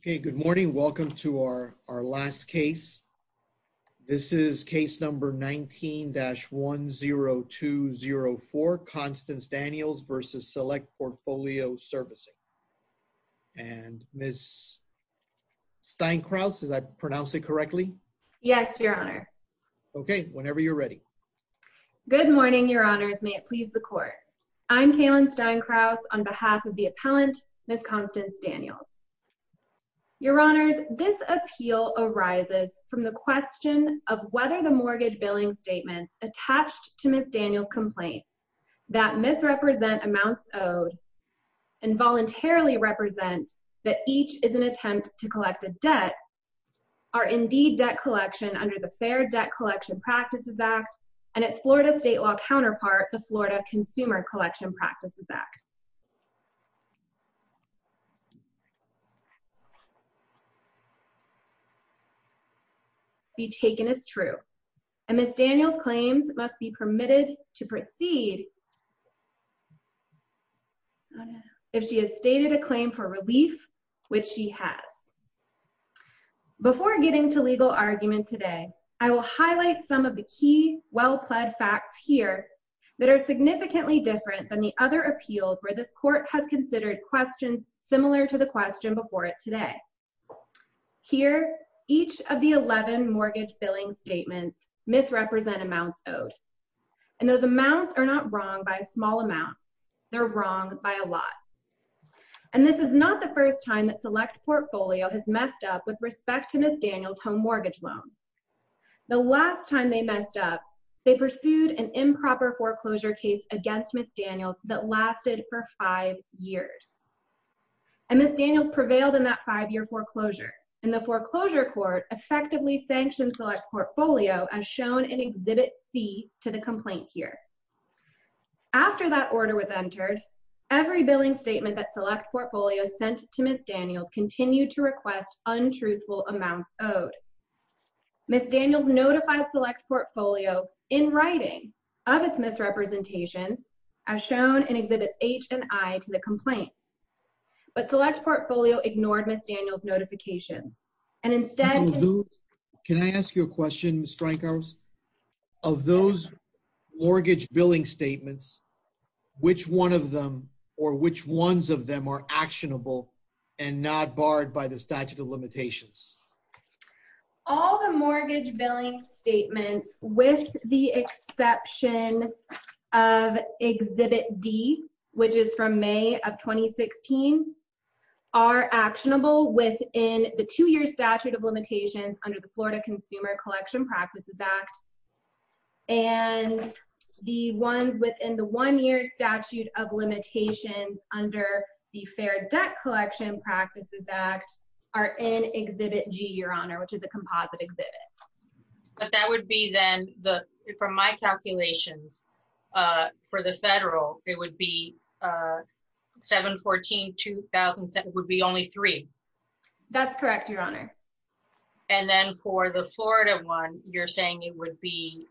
Okay, good morning. Welcome to our last case. This is case number 19-10204, Constance Daniels v. Select Portfolio Servicing. And Ms. Steinkraus, did I pronounce it correctly? Yes, your honor. Okay, whenever you're ready. Good morning, your honors. May it please the court. I'm Kaylin Steinkraus on behalf of the appellant, Ms. Constance Daniels. Your honors, this appeal arises from the question of whether the mortgage billing statements attached to Ms. Daniels' complaint that misrepresent amounts owed and voluntarily represent that each is an attempt to collect a debt are indeed debt collection under the Fair Debt Collection Practices Act and its Florida state law counterpart, the Florida Consumer Collection Practices Act. And Ms. Daniels' claims must be permitted to proceed if she has stated a claim for relief, which she has. Before getting to legal argument today, I will highlight some of the key well-pled facts here that are significantly different than the other appeals where this court has considered questions similar to the question before it today. Here, each of the 11 mortgage billing statements misrepresent amounts owed. And those amounts are not wrong by a small amount, they're wrong by a lot. And this is not the first time that Select Portfolio has messed up with respect to Ms. Daniels' home mortgage loan. The last time they messed up, they pursued an improper foreclosure case against Ms. Daniels that lasted for five years. And Ms. Daniels prevailed in that five-year foreclosure. And the foreclosure court effectively sanctioned Select Portfolio as shown in Exhibit C to the complaint here. After that order was entered, every billing statement that Select Portfolio sent to Ms. Daniels continued to request untruthful amounts owed. Ms. Daniels notified Select Portfolio in writing of its misrepresentations as shown in Exhibit H and I to the complaint. But Select Portfolio ignored Ms. Daniels' notifications. And instead- Can I ask you a question, Ms. Stryker? Of those mortgage billing statements, which one of them or which ones of them are actionable and not barred by the statute of limitations? All the mortgage billing statements, with the exception of Exhibit D, which is from May of 2016, are actionable within the two-year statute of limitations under the Florida Consumer Collection Practices Act. And the ones within the one-year statute of limitations under the Fair Debt Collection Practices Act are in Exhibit G, Your Honor, which is a composite exhibit. But that would be then, from my calculations, for the federal, it would be 7-14-2007 would be only three. That's correct, Your Honor. And then for the Florida one, you're saying it would be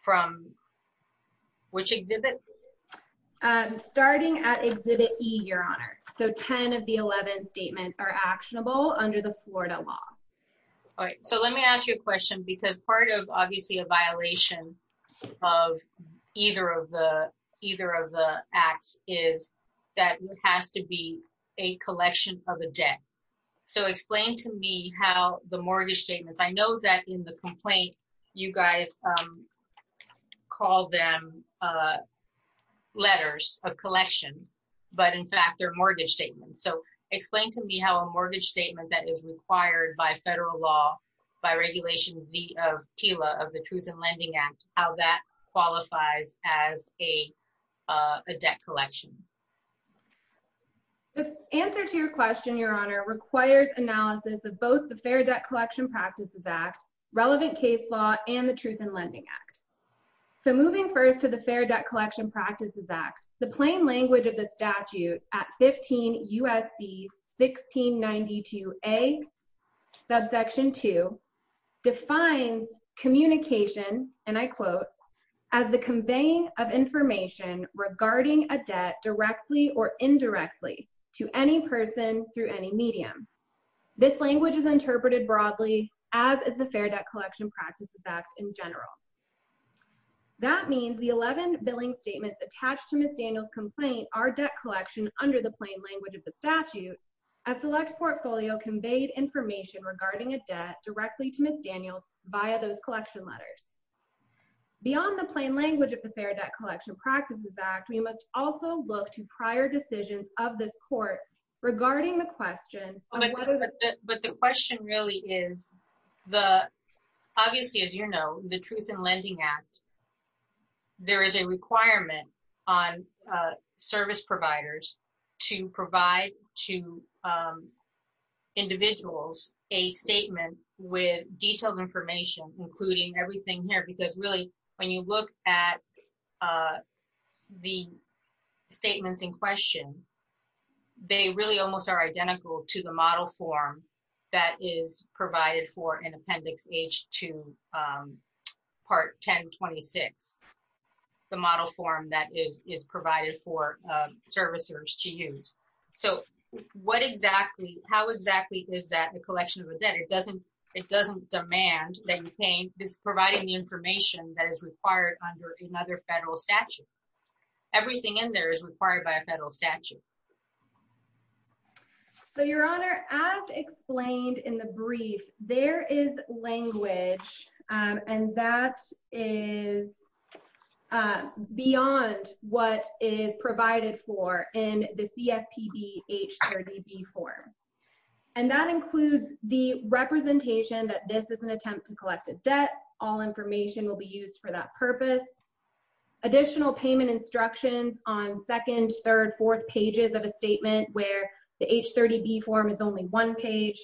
from which exhibit? Starting at Exhibit E, Your Honor. So 10 of the 11 statements are actionable under the Florida law. All right, so let me ask you a question because part of, obviously, a violation of either of the acts is that it has to be a collection of a debt. So explain to me how the mortgage statements, I know that in the complaint, you guys called them letters of collection, but in fact, they're mortgage statements. So explain to me how a mortgage statement that is required by federal law, by Regulation Z of TILA, of the Truth in Lending Act, how that qualifies as a debt collection. The answer to your question, Your Honor, requires analysis of both the Fair Debt Collection Practices Act, relevant case law, and the Truth in Lending Act. So moving first to the Fair Debt Collection Practices Act, the plain language of the statute at 15 U.S.C. 1692A, subsection two, defines communication, and I quote, as the conveying of information regarding a debt directly or indirectly to any person through any medium. This language is interpreted broadly as is the Fair Debt Collection Practices Act in general. That means the 11 billing statements attached to Ms. Daniels' complaint are debt collection under the plain language of the statute as select portfolio conveyed information regarding a debt directly to Ms. Daniels via those collection letters. Beyond the plain language of the Fair Debt Collection Practices Act, we must also look to prior decisions of this court regarding the question of whether the- But the question really is the, obviously, as you know, the Truth in Lending Act, there is a requirement on service providers to provide to individuals a statement with detailed information, including everything here, because really, when you look at the statements in question, they really almost are identical to the model form that is provided for in Appendix H2, Part 1026. The model form that is provided for servicers to use. So what exactly, how exactly is that a collection of a debt? It doesn't demand that you pay, it's providing the information that is required under another federal statute. Everything in there is required by a federal statute. So, Your Honor, as explained in the brief, there is language, and that is beyond what is provided for in the CFPB H30B form. And that includes the representation that this is an attempt to collect a debt. All information will be used for that purpose. Additional payment instructions on second, third, fourth pages of a statement where the H30B form is only one page.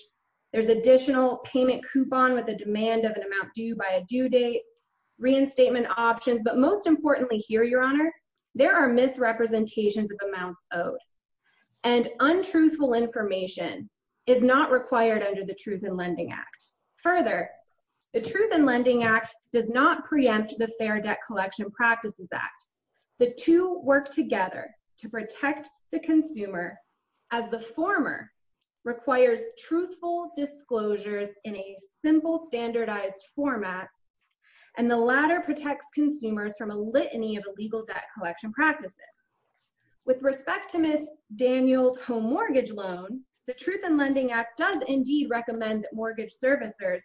There's additional payment coupon with a demand of an amount due by a due date, reinstatement options, but most importantly here, Your Honor, there are misrepresentations of amounts owed. And untruthful information is not required under the Truth in Lending Act. Further, the Truth in Lending Act does not preempt the Fair Debt Collection Practices Act. The two work together to protect the consumer as the former requires truthful disclosures in a simple standardized format, and the latter protects consumers from a litany of illegal debt collection practices. With respect to Ms. Daniel's home mortgage loan, the Truth in Lending Act does indeed recommend that mortgage servicers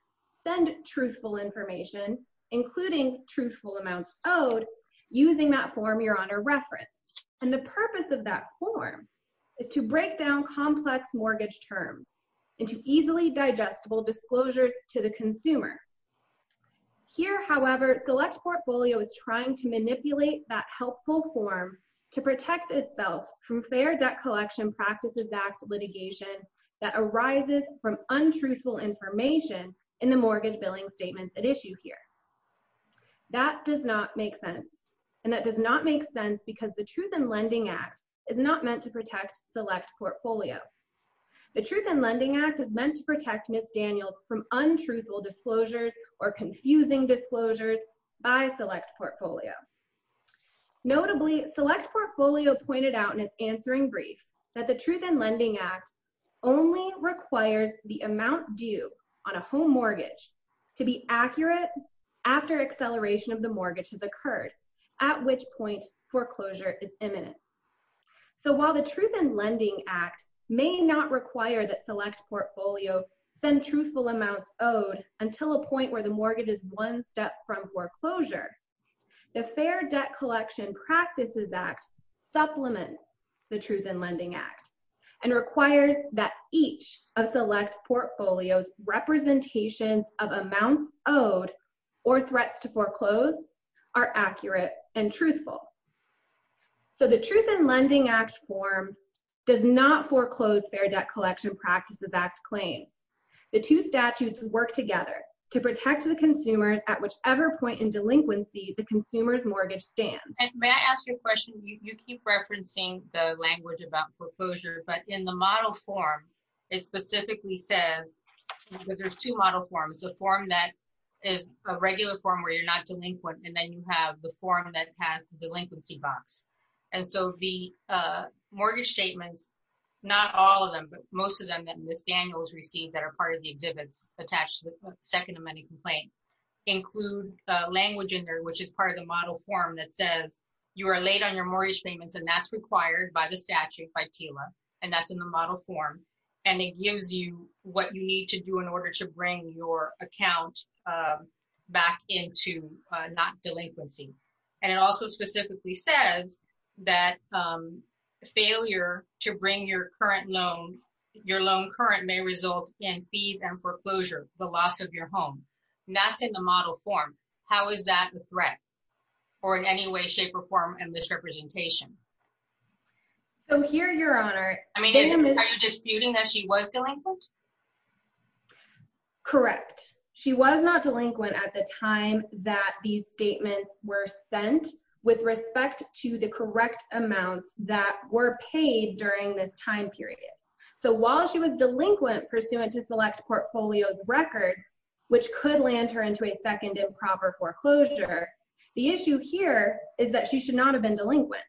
send truthful information, including truthful amounts owed, using that form Your Honor referenced. And the purpose of that form is to break down complex mortgage terms into easily digestible disclosures to the consumer. Here, however, Select Portfolio is trying to manipulate that helpful form to protect itself from Fair Debt Collection Practices Act litigation that arises from untruthful information in the mortgage billing statements at issue here. That does not make sense. And that does not make sense because the Truth in Lending Act is not meant to protect Select Portfolio. The Truth in Lending Act is meant to protect Ms. Daniel's from untruthful disclosures or confusing disclosures by Select Portfolio. Notably, Select Portfolio pointed out in its answering brief that the Truth in Lending Act only requires the amount due on a home mortgage to be accurate after acceleration of the mortgage has occurred at which point foreclosure is imminent. So while the Truth in Lending Act may not require that Select Portfolio send truthful amounts owed until a point where the mortgage is one step from foreclosure, the Fair Debt Collection Practices Act supplements the Truth in Lending Act and requires that each of Select Portfolio's representations of amounts owed or threats to foreclose are accurate and truthful. So the Truth in Lending Act form does not foreclose Fair Debt Collection Practices Act claims. The two statutes work together to protect the consumers at whichever point in delinquency the consumer's mortgage stands. And may I ask you a question? You keep referencing the language about foreclosure, but in the model form, it specifically says, because there's two model forms, the form that is a regular form where you're not delinquent, and then you have the form that has the delinquency box. And so the mortgage statements, not all of them, but most of them that Ms. Daniels received that are part of the exhibits attached to the second amending complaint include language in there, which is part of the model form that says, you are late on your mortgage payments and that's required by the statute by TILA, and that's in the model form. And it gives you what you need to do in order to bring your account back into not delinquency. And it also specifically says that failure to bring your current loan, your loan current may result in fees and foreclosure, the loss of your home. And that's in the model form. How is that a threat or in any way, shape or form in this representation? So here, Your Honor- I mean, are you disputing that she was delinquent? Correct. She was not delinquent at the time that these statements were sent with respect to the correct amounts that were paid during this time period. So while she was delinquent pursuant to select portfolios records, which could land her into a second improper foreclosure, the issue here is that she should not have been delinquent.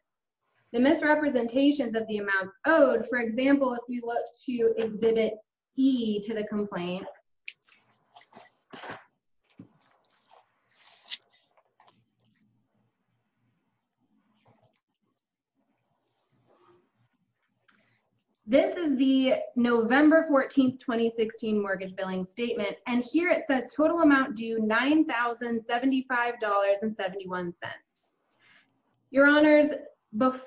The misrepresentations of the amounts owed, for example, if we look to exhibit E to the complaint. This is the November 14th, 2016 mortgage billing statement. And here it says total amount due $9,075.71. Your Honors,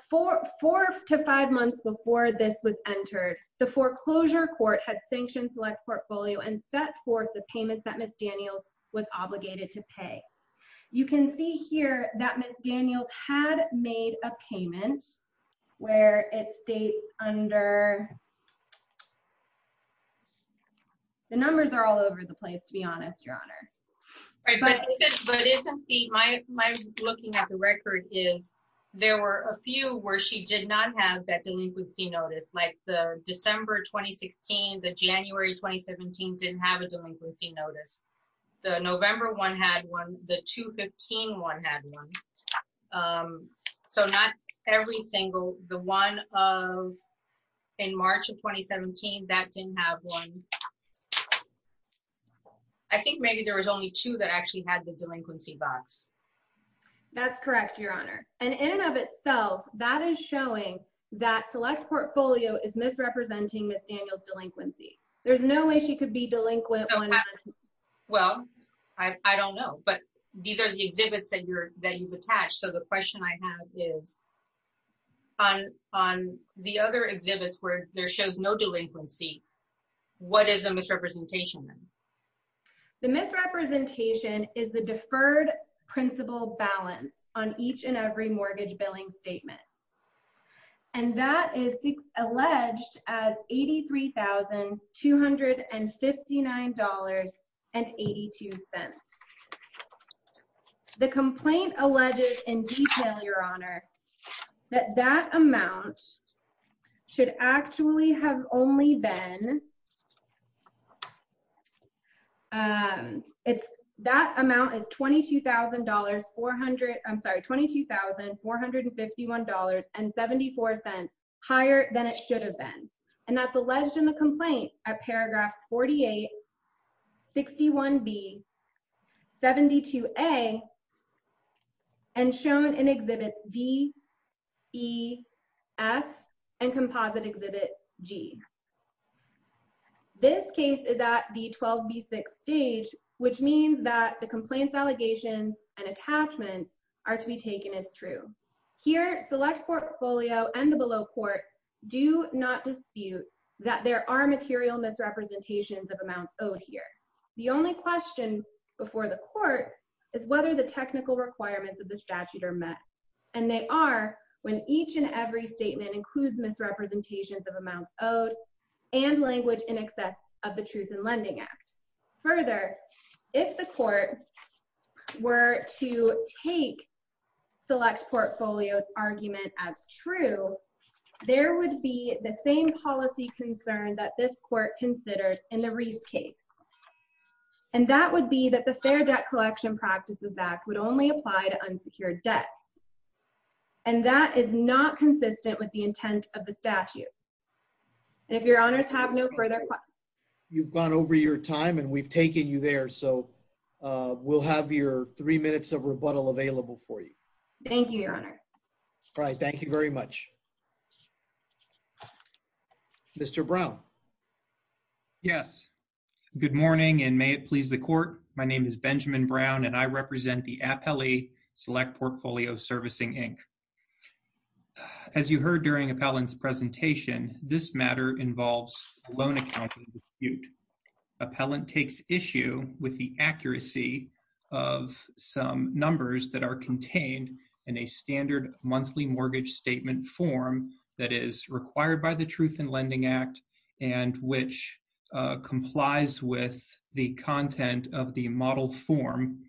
four to five months before this was entered, the foreclosure court had sanctioned select portfolio and set forth the payments that Ms. Daniels was obligated to pay. You can see here that Ms. Daniels had made a payment where it states under... The numbers are all over the place, to be honest, Your Honor. All right, but my looking at the record is, there were a few where she did not have that delinquency notice. Like the December, 2016, the January, 2017 didn't have a delinquency notice. The November one had one, the 2015 one had one. So not every single, the one of in March of 2017, that didn't have one. I think maybe there was only two that actually had the delinquency box. That's correct, Your Honor. And in and of itself, that is showing that select portfolio is misrepresenting Ms. Daniels' delinquency. There's no way she could be delinquent. Well, I don't know, but these are the exhibits that you've attached. So the question I have is, on the other exhibits where there shows no delinquency, what is a misrepresentation then? The misrepresentation is the deferred principal balance on each and every mortgage billing statement. And that is alleged as $83,259.82. The complaint alleges in detail, Your Honor, that that amount should actually have only been, that amount is $22,451.74 higher than it should have been. And that's alleged in the complaint at paragraphs 48, 61B, 72A, and shown in exhibit D, E, F, and composite exhibit G. This case is at the 12B6 stage, which means that the complaint allegations and attachments are to be taken as true. Here, select portfolio and the below court do not dispute that there are material misrepresentations of amounts owed here. The only question before the court is whether the technical requirements of the statute are met. And they are when each and every statement includes misrepresentations of amounts owed and language in excess of the Truth in Lending Act. Further, if the court were to take select portfolios argument as true, there would be the same policy concern that this court considered in the Reese case. And that would be that the Fair Debt Collection Practices Act would only apply to unsecured debts. And that is not consistent with the intent of the statute. And if your honors have no further questions. You've gone over your time and we've taken you there. So we'll have your three minutes of rebuttal available for you. Thank you, your honor. All right, thank you very much. Mr. Brown. Yes, good morning and may it please the court. My name is Benjamin Brown and I represent the Appellee Select Portfolio Servicing, Inc. As you heard during Appellant's presentation, this matter involves a loan accounting dispute. Appellant takes issue with the accuracy of some numbers that are contained in a standard monthly mortgage statement form that is required by the Truth in Lending Act and which complies with the content of the model form.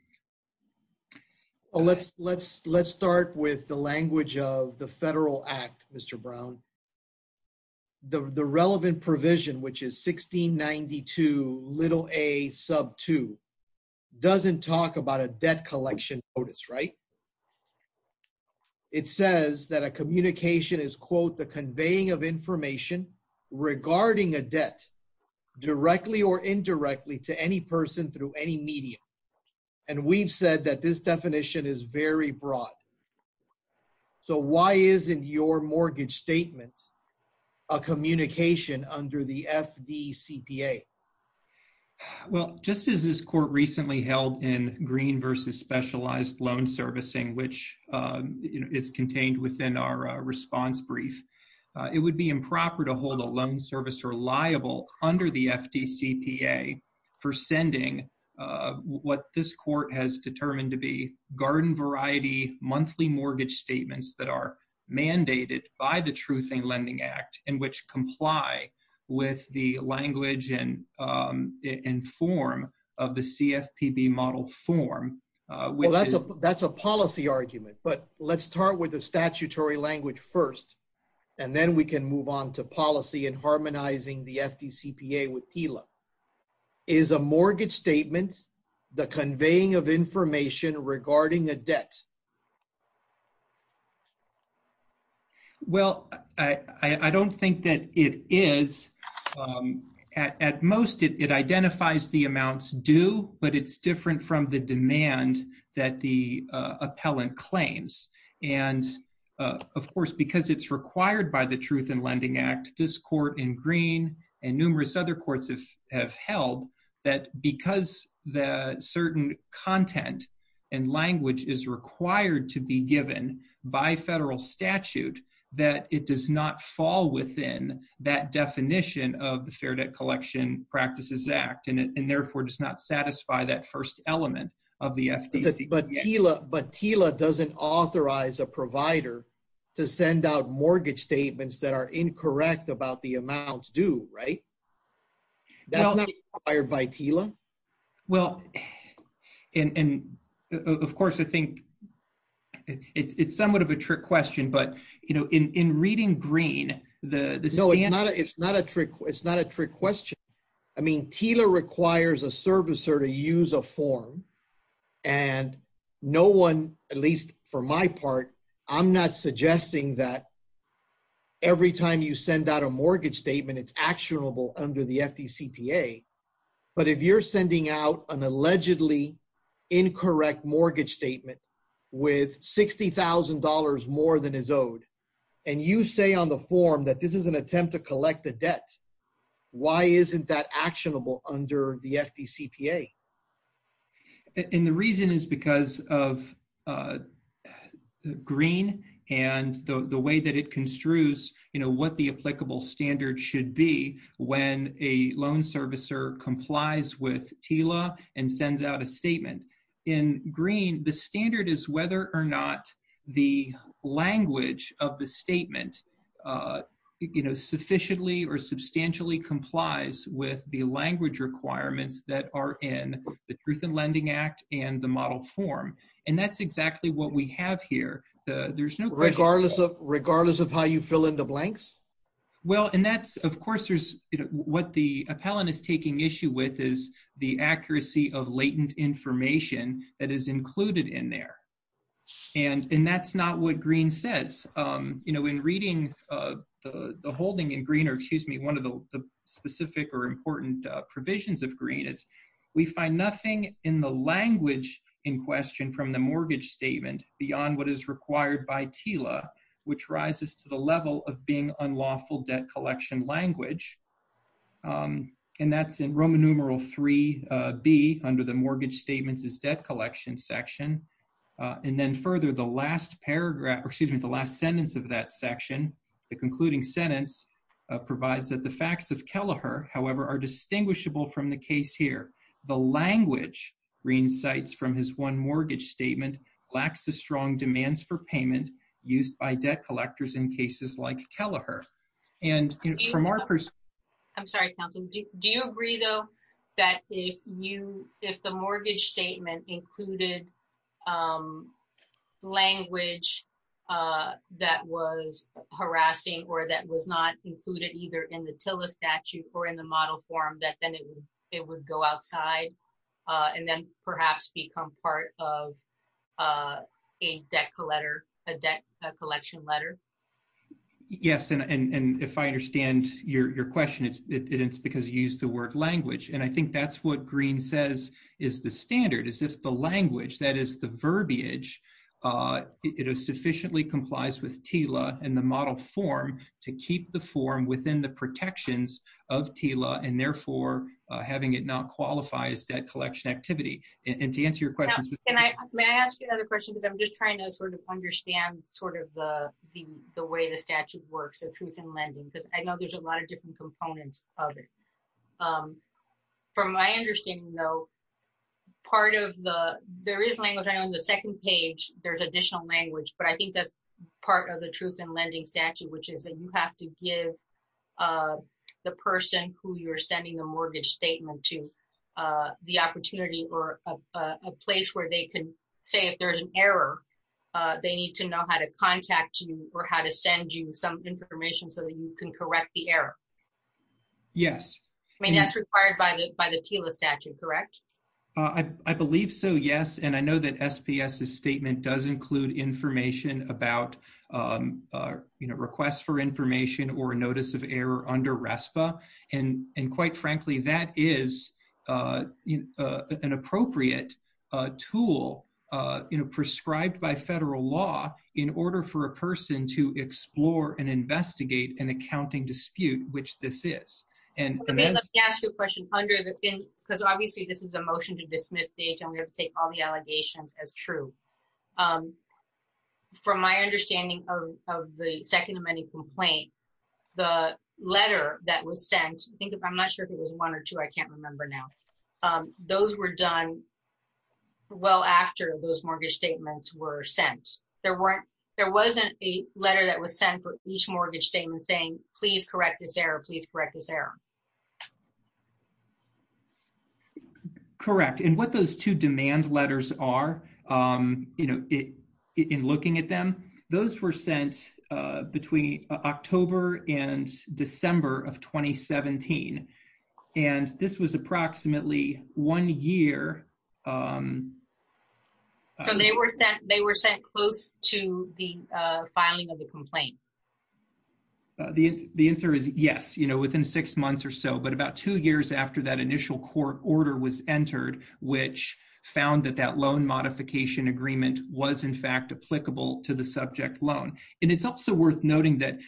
Well, let's start with the language of the Federal Act, Mr. Brown. The relevant provision, which is 1692 little a sub two doesn't talk about a debt collection notice, right? It says that a communication is quote, the conveying of information regarding a debt directly or indirectly to any person through any medium. And we've said that this definition is very broad. So why isn't your mortgage statement a communication under the FDCPA? Well, just as this court recently held in green versus specialized loan servicing, which is contained within our response brief, it would be improper to hold a loan service or liable under the FDCPA for sending what this court has determined to be garden variety monthly mortgage statements that are mandated by the Truth in Lending Act and which comply with the language and form of the CFPB model form. Well, that's a policy argument, but let's start with the statutory language first, and then we can move on to policy and harmonizing the FDCPA with TILA. Is a mortgage statement, the conveying of information regarding a debt? Well, I don't think that it is. At most it identifies the amounts due, but it's different from the demand that the appellant claims. And of course, because it's required by the Truth in Lending Act, this court in green and numerous other courts have held that because the certain content and language is required to be given by federal statute, that it does not fall within that definition of the Fair Debt Collection Practices Act and therefore does not satisfy that first element of the FDC. But TILA doesn't authorize a provider to send out mortgage statements that are incorrect about the amounts due, right? That's not required by TILA? Well, and of course, I think it's somewhat of a trick question, but in reading green, the standard- No, it's not a trick question. I mean, TILA requires a servicer to use a form and no one, at least for my part, I'm not suggesting that every time you send out a mortgage statement, it's actionable under the FDCPA. But if you're sending out an allegedly incorrect mortgage statement with $60,000 more than is owed, and you say on the form that this is an attempt to collect the debt, why isn't that actionable under the FDCPA? And the reason is because of green and the way that it construes what the applicable standard should be when a loan servicer complies with TILA and sends out a statement. In green, the standard is whether or not the language of the statement sufficiently or substantially complies with the language requirements that are in the Truth in Lending Act and the model form. And that's exactly what we have here. There's no- Regardless of how you fill in the blanks? Well, and that's, of course, what the appellant is taking issue with is the accuracy of latent information that is included in there. And that's not what green says. In reading the holding in green, or excuse me, one of the specific or important provisions of green is we find nothing in the language in question from the mortgage statement beyond what is required by TILA, which rises to the level of being unlawful debt collection language. And that's in Roman numeral 3B under the mortgage statements is debt collection section. And then further, the last paragraph, excuse me, the last sentence of that section, the concluding sentence provides that the facts of Kelleher, however, are distinguishable from the case here. The language, green cites from his one mortgage statement, lacks the strong demands for payment used by debt collectors in cases like Kelleher. And from our perspective- I'm sorry, Counselor. Do you agree, though, that if the mortgage statement included language that was harassing or that was not included either in the TILA statute or in the model form, that then it would go outside and then perhaps become part of a debt collection letter? Yes, and if I understand your question, it's because you used the word language. And I think that's what green says is the standard, is if the language, that is the verbiage, it sufficiently complies with TILA and the model form to keep the form within the protections of TILA and therefore having it not qualify as debt collection activity. And to answer your question- Can I ask you another question? Because I'm just trying to sort of understand sort of the way the statute works of treason lending, because I know there's a lot of different components of it. From my understanding, though, part of the, there is language. I know on the second page, there's additional language, but I think that's part of the truth in lending statute, which is that you have to give the person who you're sending the mortgage statement to the opportunity or a place where they can say if there's an error, they need to know how to contact you or how to send you some information so that you can correct the error. Yes. I mean, that's required by the TILA statute, correct? I believe so, yes. And I know that SPS's statement does include information about requests for information or a notice of error under RESPA. And quite frankly, that is an appropriate tool prescribed by federal law in order for a person to explore and investigate an accounting dispute, which this is. And- Let me ask you a question. Because obviously, this is a motion to dismiss stage, and we have to take all the allegations as true. From my understanding of the second amending complaint, the letter that was sent, I'm not sure if it was one or two, I can't remember now. Those were done well after those mortgage statements were sent. There wasn't a letter that was sent for each mortgage statement saying, please correct this error, correct? And what those two demand letters are, in looking at them, those were sent between October and December of 2017. And this was approximately one year. So they were sent close to the filing of the complaint? The answer is yes. Within six months, but about two years after that initial court order was entered, which found that that loan modification agreement was in fact applicable to the subject loan. And it's also worth noting that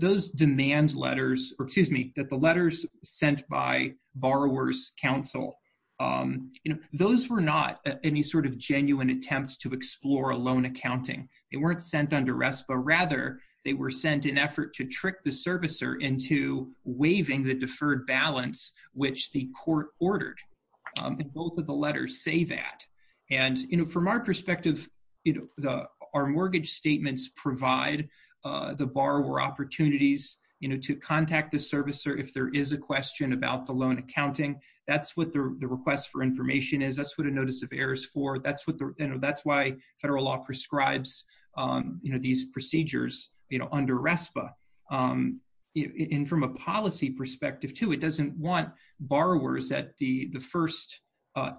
those demand letters, or excuse me, that the letters sent by Borrowers Council, those were not any sort of genuine attempts to explore a loan accounting. They weren't sent under RESPA. Rather, they were sent in effort to trick the servicer into waiving the deferred balance, which the court ordered. And both of the letters say that. And from our perspective, our mortgage statements provide the borrower opportunities to contact the servicer if there is a question about the loan accounting. That's what the request for information is. That's what a notice of error is for. That's why federal law prescribes these procedures under RESPA. And from a policy perspective too, it doesn't want borrowers at the first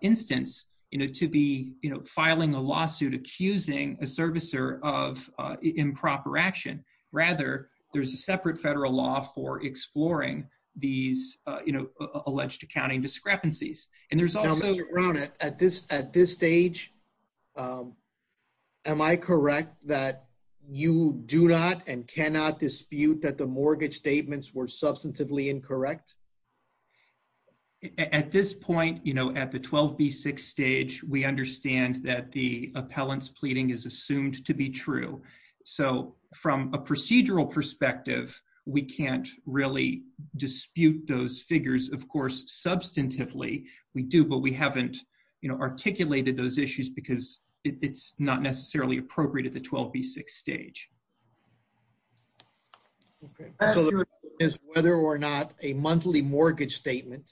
instance to be filing a lawsuit accusing a servicer of improper action. Rather, there's a separate federal law for exploring these alleged accounting discrepancies. And there's also- Now, Mr. Brown, at this stage, am I correct that you do not and cannot dispute that the mortgage statements were substantively incorrect? At this point, at the 12B6 stage, we understand that the appellant's pleading is assumed to be true. So from a procedural perspective, we can't really dispute those figures. Of course, substantively we do, but we haven't articulated those issues because it's not necessarily appropriate at the 12B6 stage. So the question is whether or not a monthly mortgage statement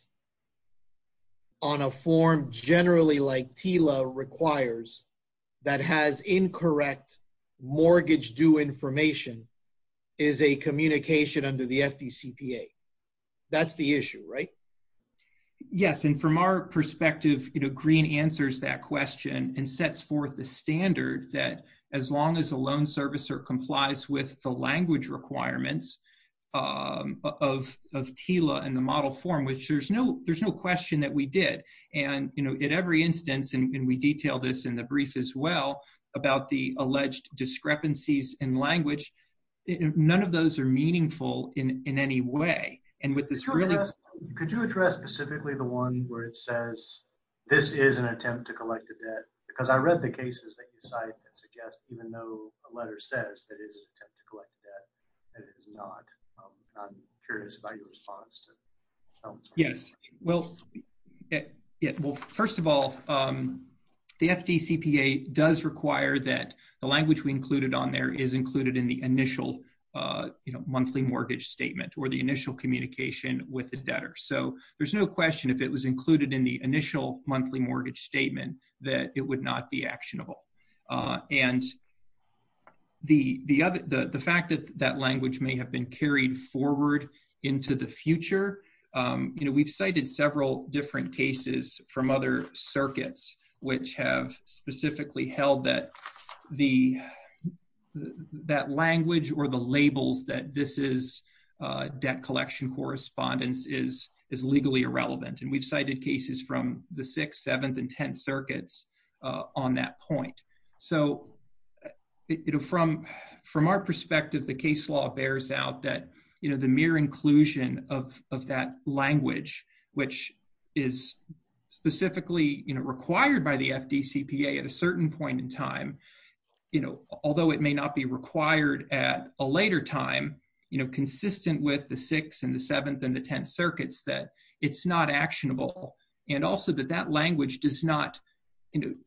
on a form generally like TILA requires that has incorrect mortgage due information is a communication under the FDCPA. That's the issue, right? Yes, and from our perspective, Green answers that question and sets forth the standard that as long as a loan servicer complies with the language requirements of TILA and the model form, which there's no question that we did. And at every instance, and we detail this in the brief as well, about the alleged discrepancies in language, none of those are meaningful in any way. And with this really- Could you address specifically the one where it says this is an attempt to collect a debt? Because I read the cases that you cite that suggest even though a letter says that is an attempt to collect debt, that is not. And I'm curious about your response to- Yes, well, first of all, the FDCPA does require that the language we included on there is included in the initial monthly mortgage statement or the initial communication with the debtor. So there's no question if it was included in the initial monthly mortgage statement that it would not be actionable. And the fact that that language may have been carried forward into the future, we've cited several different cases from other circuits, which have specifically held that language or the labels that this is debt collection correspondence is legally irrelevant. And we've cited cases from the sixth, seventh, and 10th circuits on that point. So from our perspective, the case law bears out that the mere inclusion of that language, which is specifically required by the FDCPA at a certain point in time, although it may not be required at a later time, consistent with the sixth that it's not actionable. And also that that language does not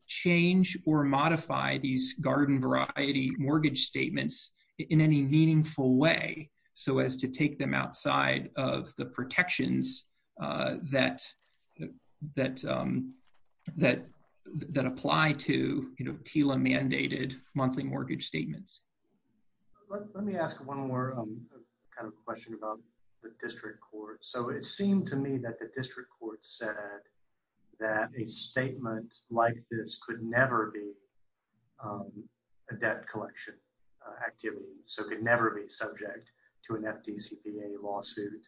change or modify these garden variety mortgage statements in any meaningful way so as to take them outside of the protections that apply to TILA mandated monthly mortgage statements. Let me ask one more kind of question about the district court. So it seemed to me that the district court said that a statement like this could never be a debt collection activity. So it could never be subject to an FDCPA lawsuit.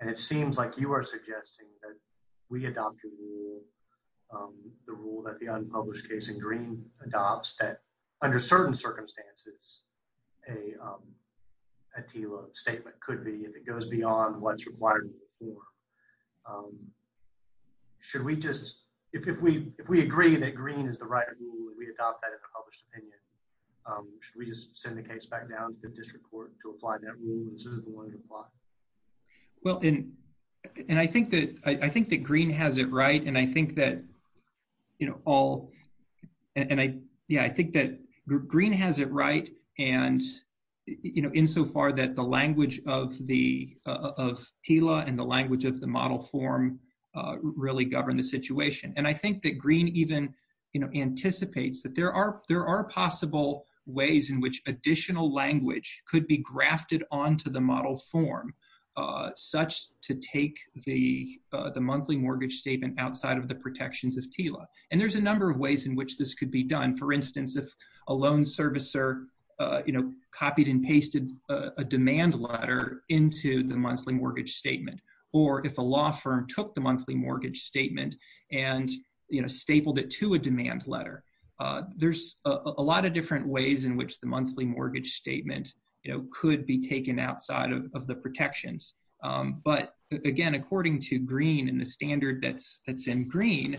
And it seems like you are suggesting that we adopt your rule, the rule that the unpublished case in green adopts that under certain circumstances, a TILA statement could be if it goes beyond what's required. Should we just, if we agree that green is the right rule and we adopt that as a published opinion, should we just send the case back down to the district court to apply that rule and this is the one to apply? Well, and I think that green has it right. And I think that all, and I think that green has it right. And insofar that the language of TILA and the language of the model form really govern the situation. And I think that green even anticipates that there are possible ways in which additional language could be grafted onto the model form such to take the monthly mortgage statement outside of the protections of TILA. And there's a number of ways in which this could be done. For instance, if a loan servicer copied and pasted a demand letter into the monthly mortgage statement, or if a law firm took the monthly mortgage statement and stapled it to a demand letter, there's a lot of different ways in which the monthly mortgage statement could be taken outside of the protections. But again, according to green and the standard that's in green,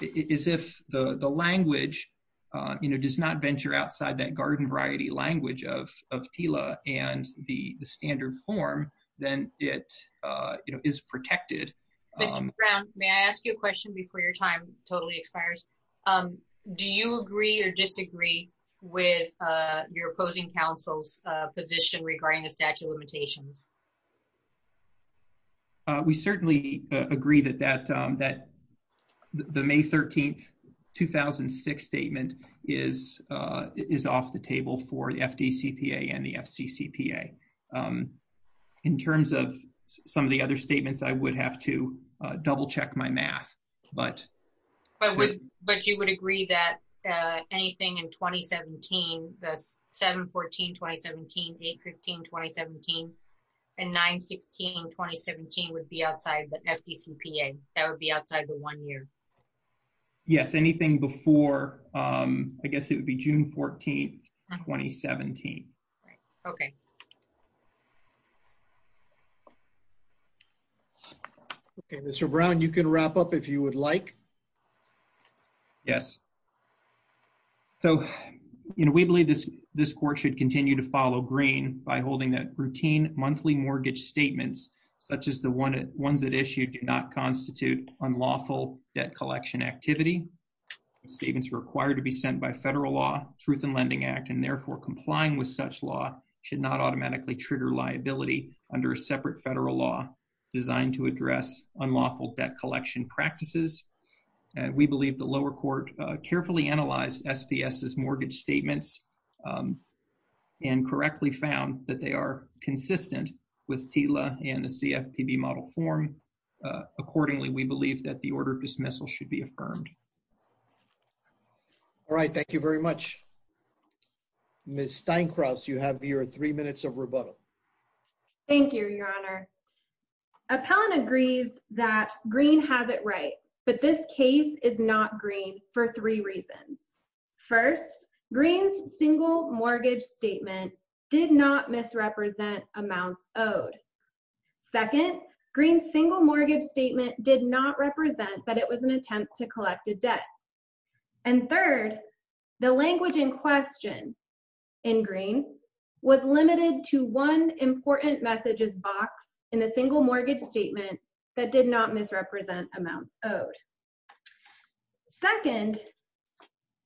is if the language does not venture outside that garden variety language of TILA and the standard form, then it is protected. Mr. Brown, may I ask you a question before your time totally expires? Do you agree or disagree with your opposing counsel's position regarding the statute of limitations? We certainly agree that the May 13th, 2006 statement is off the table for the FDCPA and the FCCPA. In terms of some of the other statements, I would have to double check my math, but- But you would agree that anything in 2017, the 7-14-2017, 8-15-2017, and 9-16-2017 would be outside the FDCPA. That would be outside the one year. Yes, anything before, I guess it would be June 14th, 2017. Okay. Okay, Mr. Brown, you can wrap up if you would like. Yes. So, we believe this court should continue to follow green by holding that routine monthly mortgage statements such as the ones that issued do not constitute unlawful debt collection activity. Statements required to be sent by federal law, Truth in Lending Act, and therefore complying with such law should not automatically trigger liability under a separate federal law designed to address unlawful debt collection practices. We believe the lower court carefully analyzed SPS's mortgage statements and correctly found that they are consistent with TLA and the CFPB model form. Accordingly, we believe that the order of dismissal should be affirmed. All right, thank you very much. Ms. Steinkraut, you have your three minutes of rebuttal. Thank you, Your Honor. Appellant agrees that green has it right, but this case is not green for three reasons. First, green's single mortgage statement did not misrepresent amounts owed. Second, green's single mortgage statement did not represent that it was an attempt to collect a debt. And third, the language in question in green was limited to one important messages box in the single mortgage statement that did not misrepresent amounts owed. Second,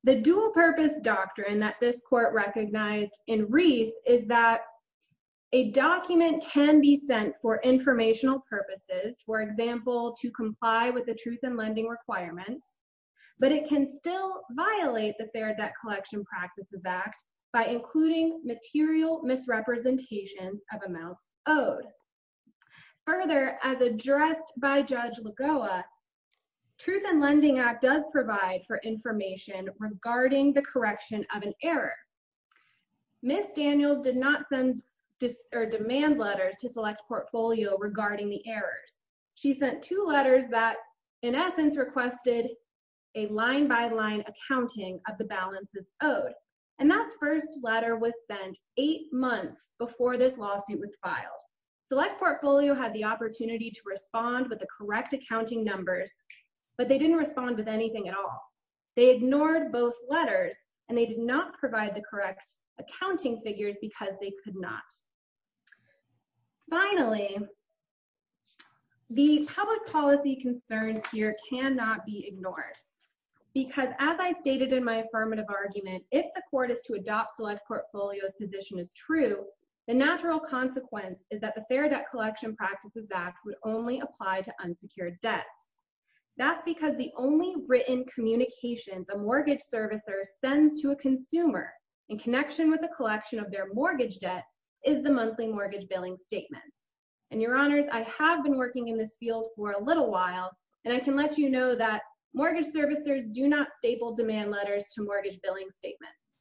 the dual purpose doctrine that this court recognized in Reese is that a document can be sent for informational purposes, for example, to comply with the truth in lending requirements, but it can still violate the Fair Debt Collection Practices Act by including material misrepresentations of amounts owed. Further, as addressed by Judge Lagoa, Truth in Lending Act does provide for information regarding the correction of an error. Ms. Daniels did not send or demand letters to select portfolio regarding the errors. She sent two letters that in essence requested a line-by-line accounting of the balances owed. And that first letter was sent eight months before this lawsuit was filed. Select portfolio had the opportunity to respond with the correct accounting numbers, but they didn't respond with anything at all. They ignored both letters and they did not provide the correct accounting figures because they could not. Finally, the public policy concerns here cannot be ignored because as I stated in my affirmative argument, if the court is to adopt select portfolio's position is true, the natural consequence is that the Fair Debt Collection Practices Act would only apply to unsecured debts. That's because the only written communications a mortgage servicer sends to a consumer in connection with the collection of their mortgage debt is the monthly mortgage billing statement. And your honors, I have been working in this field for a little while, and I can let you know that mortgage servicers do not staple demand letters to mortgage billing statements.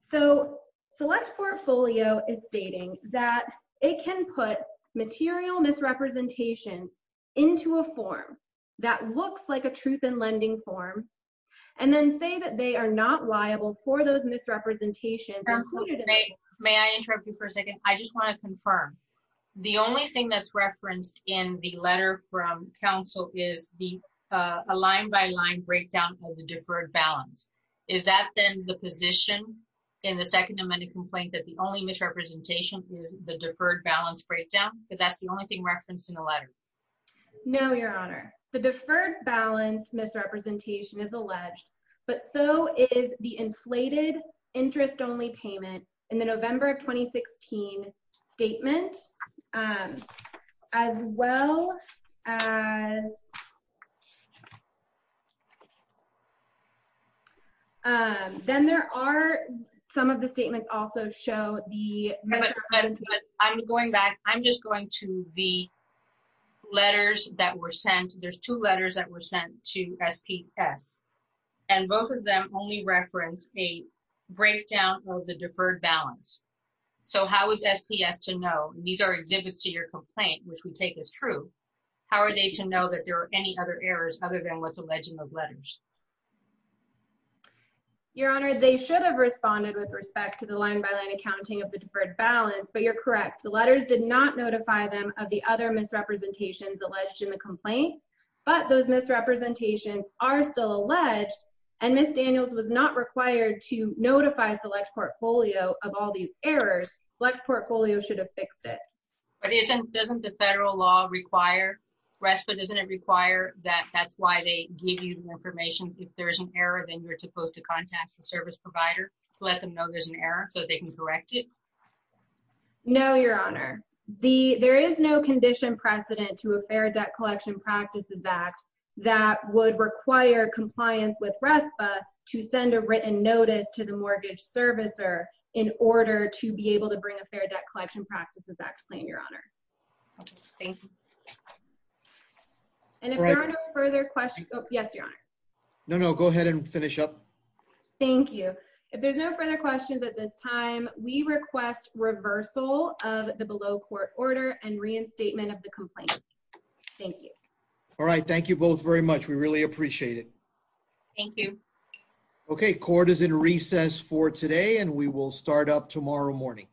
So select portfolio is stating that it can put material misrepresentations into a form that looks like a truth in lending form, and then say that they are not liable for those misrepresentations. May I interrupt you for a second? I just wanna confirm. The only thing that's referenced in the letter from counsel is the line by line breakdown of the deferred balance. Is that then the position in the second amended complaint that the only misrepresentation is the deferred balance breakdown, that that's the only thing referenced in the letter? No, your honor. The deferred balance misrepresentation is alleged, but so is the inflated interest only payment in the November of 2016 statement and as well as, then there are some of the statements also show the misrepresentation. I'm going back. I'm just going to the letters that were sent. There's two letters that were sent to SPS, and both of them only reference a breakdown of the deferred balance. So how is SPS to know? These are exhibits to your complaint, which we take as true. How are they to know that there are any other errors other than what's alleged in those letters? Your honor, they should have responded with respect to the line by line accounting of the deferred balance, but you're correct. The letters did not notify them of the other misrepresentations alleged in the complaint, but those misrepresentations are still alleged and Ms. Daniels was not required to notify Select Portfolio of all these errors. Select Portfolio should have fixed it. But isn't, doesn't the federal law require, RESPA doesn't it require that that's why they give you the information. If there's an error, then you're supposed to contact the service provider to let them know there's an error so they can correct it. No, your honor. The, there is no condition precedent to a Fair Debt Collection Practices Act that would require compliance with RESPA to send a written notice to the mortgage servicer in order to be able to bring a Fair Debt Collection Practices Act claim, your honor. Thank you. And if there are no further questions, yes, your honor. No, no, go ahead and finish up. Thank you. If there's no further questions at this time, we request reversal of the below court order and reinstatement of the complaint. Thank you. All right, thank you both very much. We really appreciate it. Thank you. Okay, court is in recess for today and we will start up tomorrow morning.